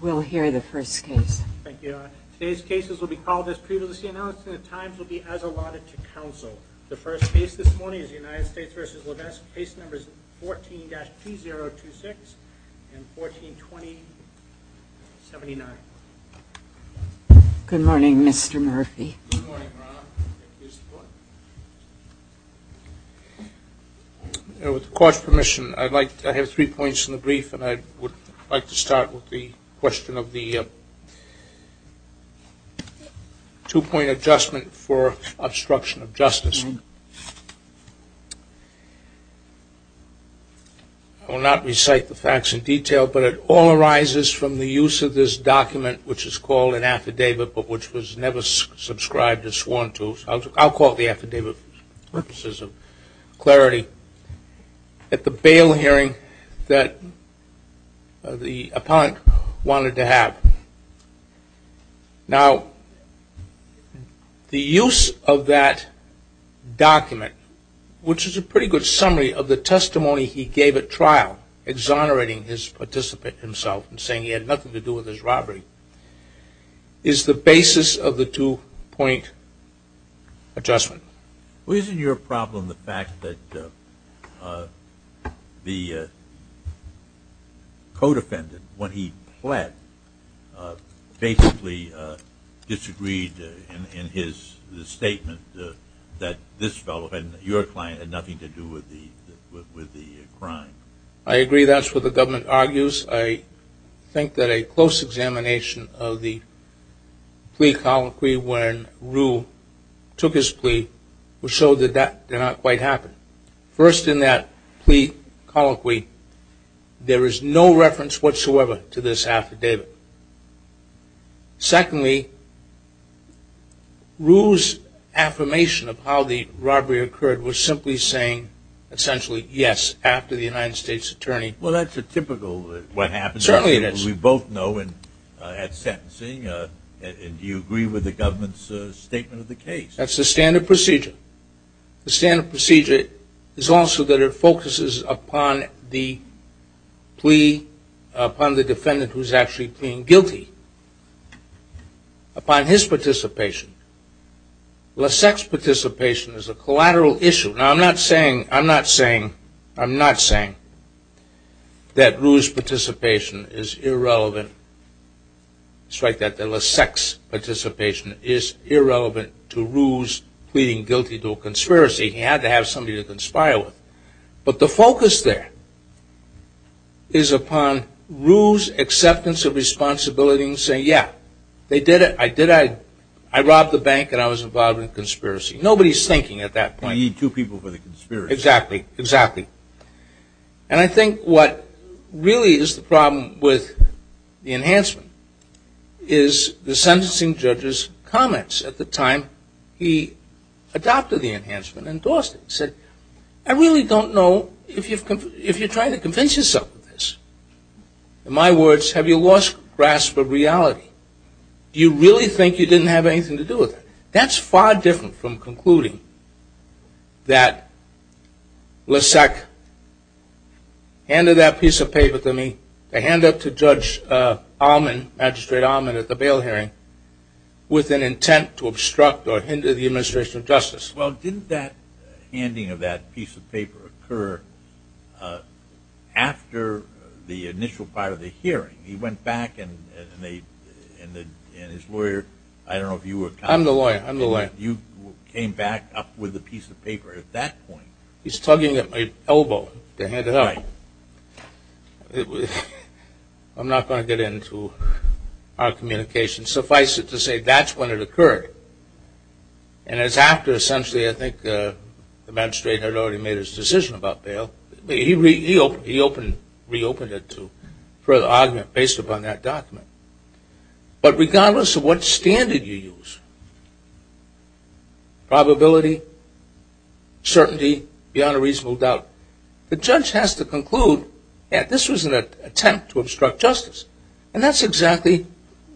We'll hear the first case. Thank you. Today's cases will be called as previously announced and the times will be as allotted to counsel. The first case this morning is United States v. Lasseque. Case numbers 14-2026 and 14-2079. Good morning, Mr. Murphy. Good morning, Ron. With the court's permission, I have three points in the brief and I would like to start with the question of the two-point adjustment for obstruction of justice. I will not recite the facts in detail, but it all arises from the use of this document which is called an affidavit. I'll call it the affidavit for purposes of clarity at the bail hearing that the appellant wanted to have. Now, the use of that document, which is a pretty good summary of the testimony he gave at trial, exonerating his participant himself and saying he had nothing to do with his robbery, is the basis of the two-point adjustment. Well, isn't your problem the fact that the co-defendant, when he pled, basically disagreed in his statement that this fellow, your client, had nothing to do with the crime? I agree that's what the government argues. I think that a close examination of the plea colloquy when Rue took his plea will show that that did not quite happen. First, in that plea colloquy, there is no reference whatsoever to this affidavit. Secondly, Rue's affirmation of how the robbery occurred was simply saying, essentially, yes, after the United States Attorney. Well, that's a typical what happens. Certainly it is. We both know at sentencing, and do you agree with the government's statement of the case? That's the standard procedure. The standard procedure is also that it focuses upon the plea, upon the defendant who's actually being guilty, upon his participation as a collateral issue. Now, I'm not saying that Rue's participation is irrelevant. Strike that. The sex participation is irrelevant to Rue's pleading guilty to a conspiracy. He had to have somebody to conspire with. But the focus there is upon Rue's acceptance of responsibility and saying, yeah, they did it. I robbed the bank, and I was involved in a conspiracy. Nobody's thinking at that point. You need two people for the conspiracy. Exactly, exactly. And I think what really is the problem with the enhancement is the sentencing judge's comments at the time he adopted the enhancement and endorsed it. He said, I really don't know if you're trying to convince yourself of this. In my words, have you lost grasp of reality? Do you really think you didn't have anything to do with it? That's far different from concluding that Lasek handed that piece of paper to me to hand up to Judge Allman, Magistrate Allman at the bail hearing with an intent to obstruct or after the initial part of the hearing. He went back and his lawyer, I don't know if you were I'm the lawyer. You came back up with the piece of paper at that point. He's tugging at my elbow to hand it up. I'm not going to get into our communication. Suffice it to say, that's when it occurred. And it's after essentially, I think, the magistrate had already made his decision about bail. He reopened it for an argument based upon that document. But regardless of what standard you use, probability, certainty, beyond a reasonable doubt, the judge has to conclude that this was an attempt to obstruct justice. And that's exactly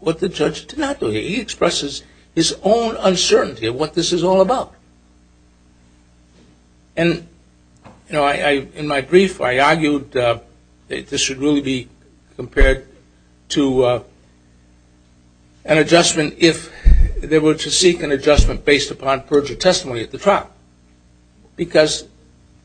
what the judge did not do. He expresses his own uncertainty of what this is all about. And in my brief, I argued that this should really be compared to an adjustment if they were to seek an adjustment based upon perjury testimony at the trial. Because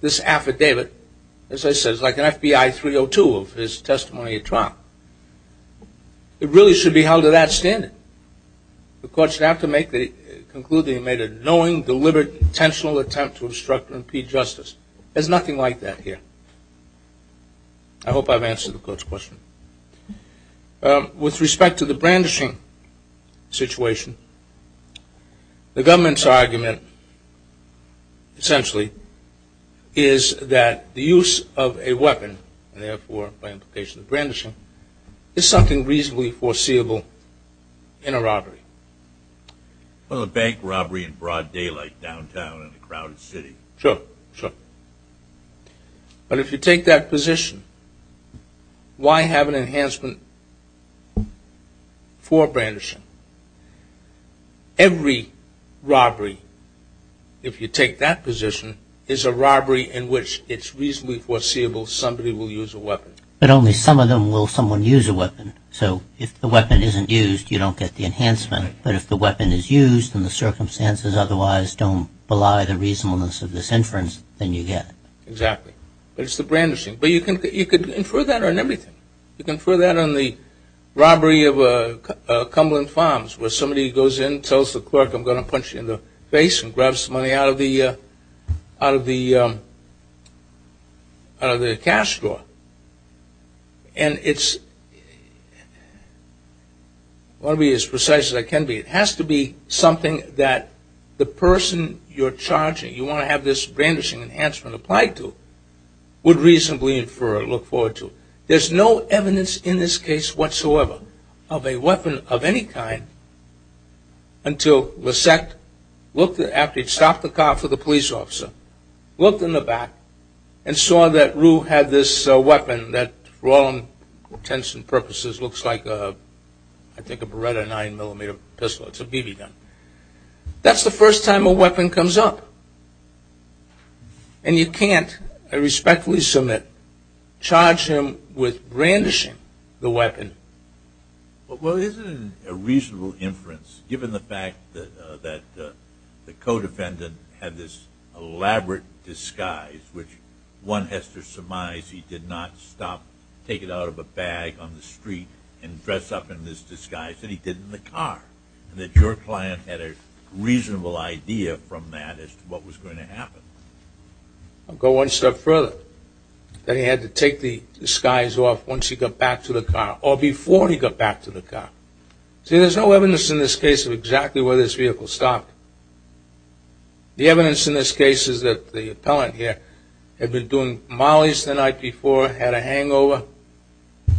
this affidavit, as I said, is like an FBI 302 of his testimony at trial. It really should be held to that standard. The court should have to conclude that he made a knowing, deliberate, intentional attempt to obstruct or impede justice. There's nothing like that here. I hope I've answered the court's question. With respect to the brandishing situation, the government's argument, essentially, is that the use of a weapon, and therefore by implication the brandishing, is something reasonably foreseeable in a robbery. Well, a bank robbery in broad daylight downtown in a crowded city. Sure, sure. But if you take that position, why have an enhancement for brandishing? Every robbery, if you take that position, is a robbery in which it's reasonably foreseeable somebody will use a weapon. But only some of them will someone use a weapon. So if the weapon isn't used, you don't get the enhancement. But if the weapon is used and the circumstances otherwise don't belie the reasonableness of this inference, then you get it. Exactly. But it's the brandishing. But you can infer that on everything. You can infer that on the robbery of Cumberland Farms where somebody goes in, tells the clerk I'm going to punch you in the face and grabs the money out of the cash drawer. And it's, I want to be as precise as I can be. It has to be something that the person you're charging, you want to have this brandishing enhancement applied to, would reasonably infer or look forward to. There's no evidence in this case whatsoever of a weapon of any kind until LeSect, after he'd stopped the car for the police officer, looked in the back and saw that Rue had this weapon that, for all intents and purposes, looks like, I think a 9mm pistol. It's a BB gun. That's the first time a weapon comes up. And you can't, I respectfully submit, charge him with brandishing the weapon. Well, isn't it a reasonable inference, given the fact that the co-defendant had this elaborate disguise, which one has to surmise he did not stop, take it out of a bag on the street and dress up in this disguise that he did in the car. And that your client had a reasonable idea from that as to what was going to happen. I'll go one step further. That he had to take the disguise off once he got back to the car, or before he got back to the car. See, there's no evidence in this case whatsoever of a weapon of any kind until LeSect, after he'd stopped the car for the police officer, looked in the back and saw that Rue had this weapon that, for all intents and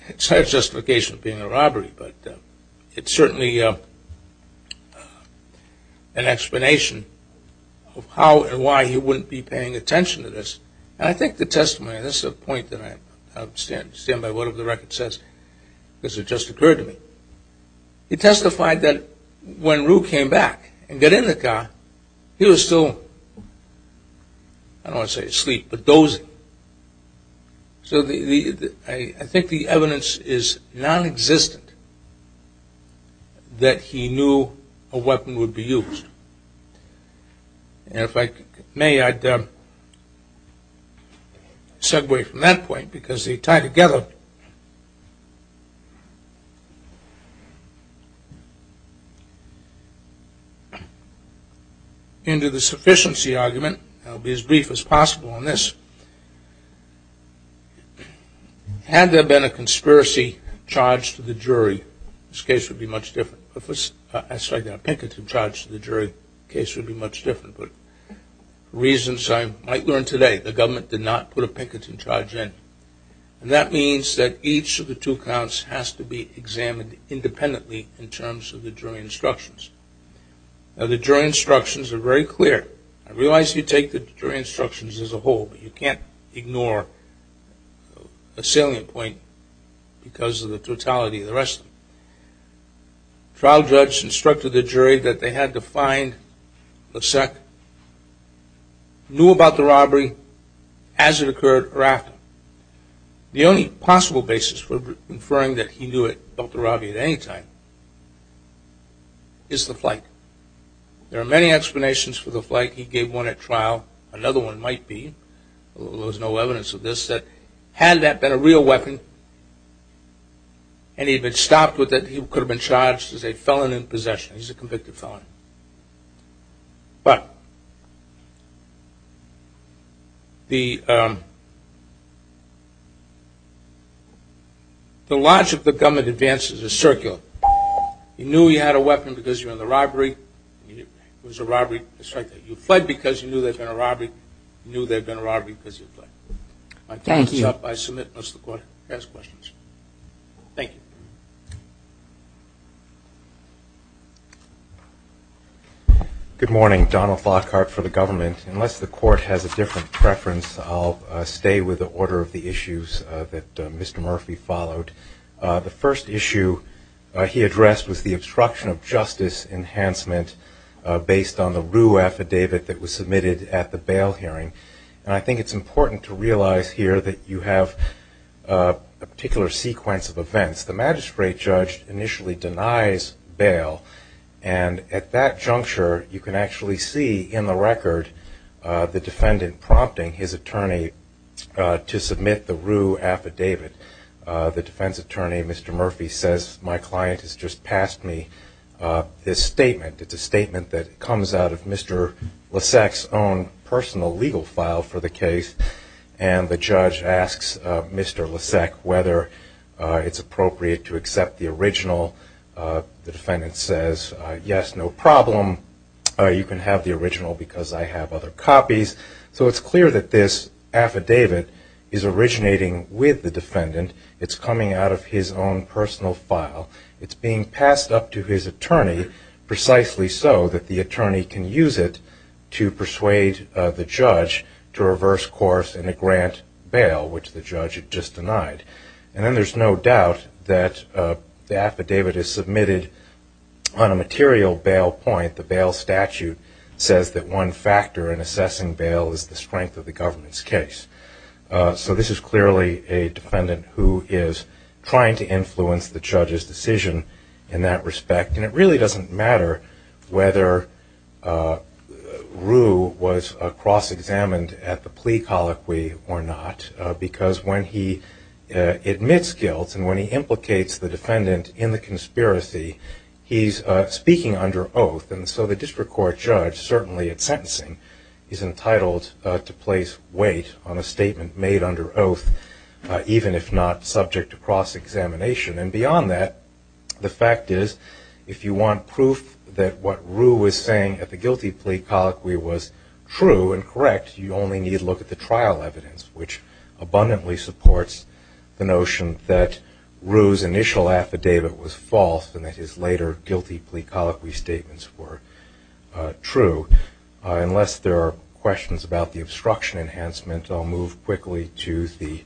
purposes, looks like, I respectfully submit, charge him with brandishing the weapon that he did not stop, take it out of a bag on the street. So I think the evidence is non-existent that he knew a weapon would be used. And if I may, I'd segue from that point, because they tie together into the sufficiency argument. I'll be as brief as possible on this. Had there been a conspiracy charge to the jury, this case would be much different. A picketing charge to the jury, the case would be much different. For reasons I might learn today, the government did not put a picketing charge in. And that means that each of the two counts has to be examined independently in terms of the jury instructions. Now the jury instructions are very clear. I realize you take the jury instructions as a whole, but you can't ignore a salient point because of the totality of the rest. Trial judge instructed the jury that they had to find Lasek, knew about the robbery as it occurred or after. The only possible basis for inferring that he knew about the robbery at any time is the flight. There are many explanations for the flight. He gave one at trial. Another one might be, although there's no evidence of this, that had that been a real weapon and he had been stopped with it, he could have been charged as a felon in possession. He's a convicted felon. But the logic of the government advances is circular. You knew he had a weapon because you were in the robbery. It was a robbery. You fled because you knew there had been a robbery. You knew there had been a robbery because you fled. My time is up. I submit unless the court has questions. Thank you. Good morning. Donald Lockhart for the government. Unless the court has a different preference, I'll stay with the order of the issues that Mr. Murphy followed. The first issue he addressed was the obstruction of justice enhancement based on the Roo affidavit that was submitted at the bail hearing. And I think it's important to realize here that you have a particular sequence of events. The magistrate judge initially denies bail. And at that juncture, you can actually see in the record the defendant prompting his attorney to submit the Roo affidavit. The defense attorney, Mr. Murphy, says my client has just passed me this statement. It's a statement that comes out of Mr. Lasek's own personal legal file for the case. And the judge asks Mr. Lasek whether it's appropriate to accept the original. The defendant says yes, no problem. You can have the original because I have other copies. So it's clear that this affidavit is originating with the defendant. It's coming out of his own personal file. It's being passed up to his attorney precisely so that the attorney can use it to persuade the judge to reverse course and to grant bail, which the judge had just denied. And then there's no doubt that the affidavit is submitted on a material bail point. The bail statute says that one factor in assessing bail is the strength of the government's case. So this is clearly a defendant who is trying to influence the judge's decision in that respect. And it really doesn't matter whether Roo was cross-examined at the plea colloquy or not. Because when he admits guilt and when he implicates the defendant in the conspiracy, he's speaking under oath. And so the district court judge, certainly at sentencing, is entitled to place weight on a statement made under oath, even if not subject to cross-examination. And beyond that, the fact is, if you want proof that what Roo was saying at the guilty plea colloquy was true and correct, you only need look at the trial evidence, which abundantly supports the notion that Roo's initial affidavit was false and that his later guilty plea colloquy statements were true. Unless there are questions about the obstruction enhancement, I'll move quickly to the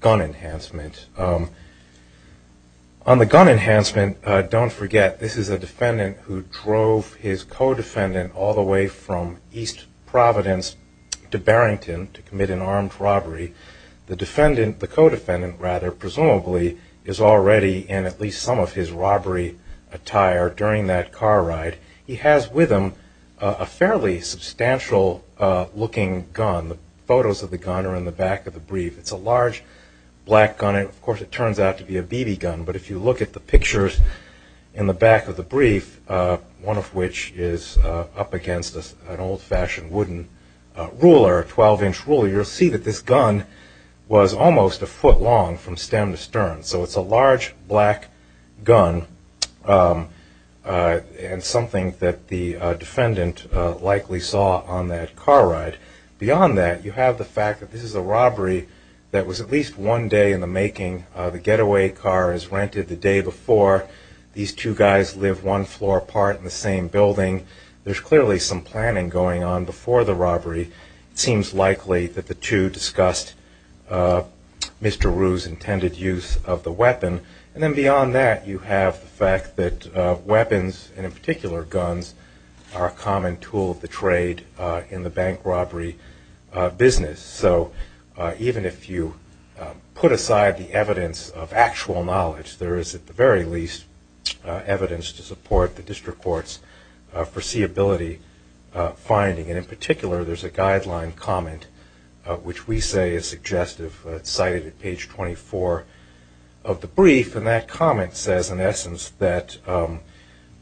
gun enhancement. On the gun enhancement, don't forget this is a defendant who drove his co-defendant all the way from East Providence to Barrington to commit an armed robbery. The defendant, the co-defendant rather, presumably, is already in at least some of his robbery attire during that car ride. He has with him a fairly substantial-looking gun. The photos of the gun are in the back of the brief. It's a large, black gun. Of course, it turns out to be a BB gun. But if you look at the pictures in the back of the brief, one of which is up against an old-fashioned wooden ruler, a 12-inch ruler, you'll see that this gun was almost a foot long from stem to stern. So it's a large, black gun and something that the defendant likely saw on that car ride. Beyond that, you have the fact that this is a robbery that was at least one day in the making. The getaway car is rented the day before. These two guys live one floor apart in the same building. There's clearly some planning going on before the robbery. It seems likely that the two discussed Mr. Rue's intended use of the weapon. And then beyond that, you have the fact that weapons, and in particular guns, are a common tool of the trade in the bank robbery business. So even if you put aside the evidence of actual knowledge, there is at the very least evidence to support the district court's foreseeability finding. And in particular, there's a guideline comment, which we say is suggestive. It's cited at page 24 of the brief. And that comment says, in essence, that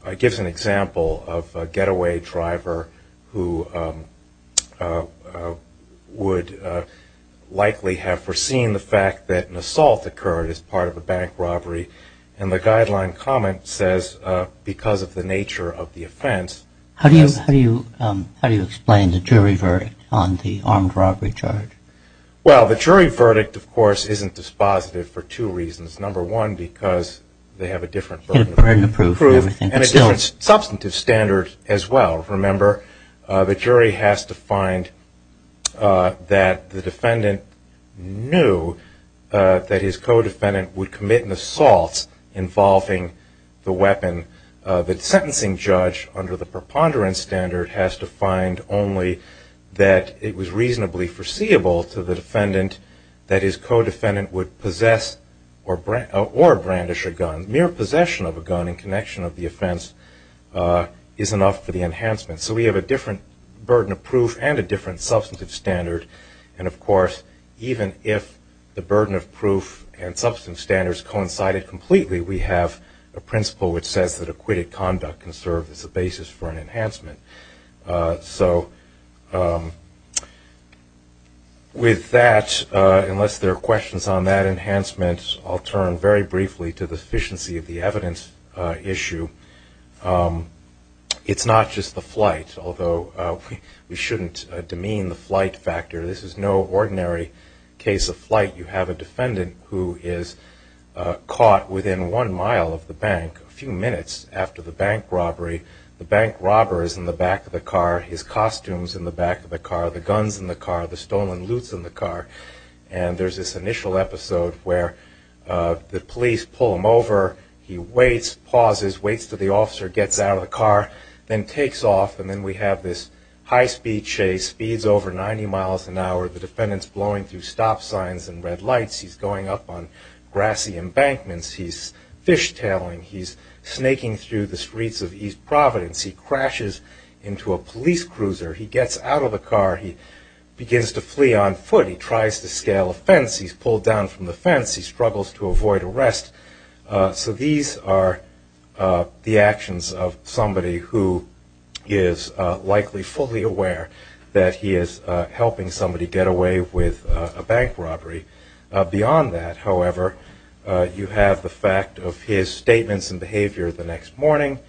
it gives an example of a getaway driver who would likely have foreseen the fact that an assault occurred as part of a bank robbery. And the guideline comment says, because of the nature of the offense… How do you explain the jury verdict on the armed robbery charge? Well, the jury verdict, of course, isn't dispositive for two reasons. Number one, because they have a different… Approved. And a different substantive standard as well. Remember, the jury has to find that the defendant knew that his co-defendant would commit an assault involving the weapon. The sentencing judge, under the preponderance standard, has to find only that it was reasonably foreseeable to the defendant that his co-defendant would possess or brandish a gun. Mere possession of a gun in connection of the offense is enough for the enhancement. So we have a different burden of proof and a different substantive standard. And, of course, even if the burden of proof and substantive standards coincided completely, we have a principle which says that acquitted conduct can serve as a basis for an enhancement. So with that, unless there are questions on that enhancement, I'll turn very briefly to the sufficiency of the evidence issue. It's not just the flight, although we shouldn't demean the flight factor. This is no ordinary case of flight. You have a defendant who is caught within one mile of the bank a few minutes after the bank robbery. The bank robber is in the back of the car. His costume's in the back of the car. The gun's in the car. The stolen loot's in the car. And there's this initial episode where the police pull him over. He waits, pauses, waits for the officer, gets out of the car, then takes off. And then we have this high-speed chase, speeds over 90 miles an hour. The defendant's blowing through stop signs and red lights. He's going up on grassy embankments. He's fishtailing. He's snaking through the streets of East Providence. He crashes into a police cruiser. He gets out of the car. He begins to flee on foot. He tries to scale a fence. He's pulled down from the fence. He struggles to avoid arrest. So these are the actions of somebody who is likely fully aware that he is helping somebody get away with a bank robbery. Beyond that, however, you have the fact of his statements and behavior the next morning.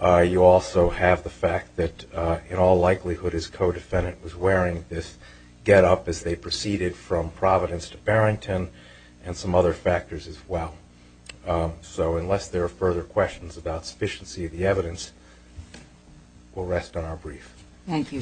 You also have the fact that in all likelihood his co-defendant was wearing this getup as they proceeded from Providence to Barrington and some other factors as well. So unless there are further questions about sufficiency of the evidence, we'll rest on our brief. Thank you.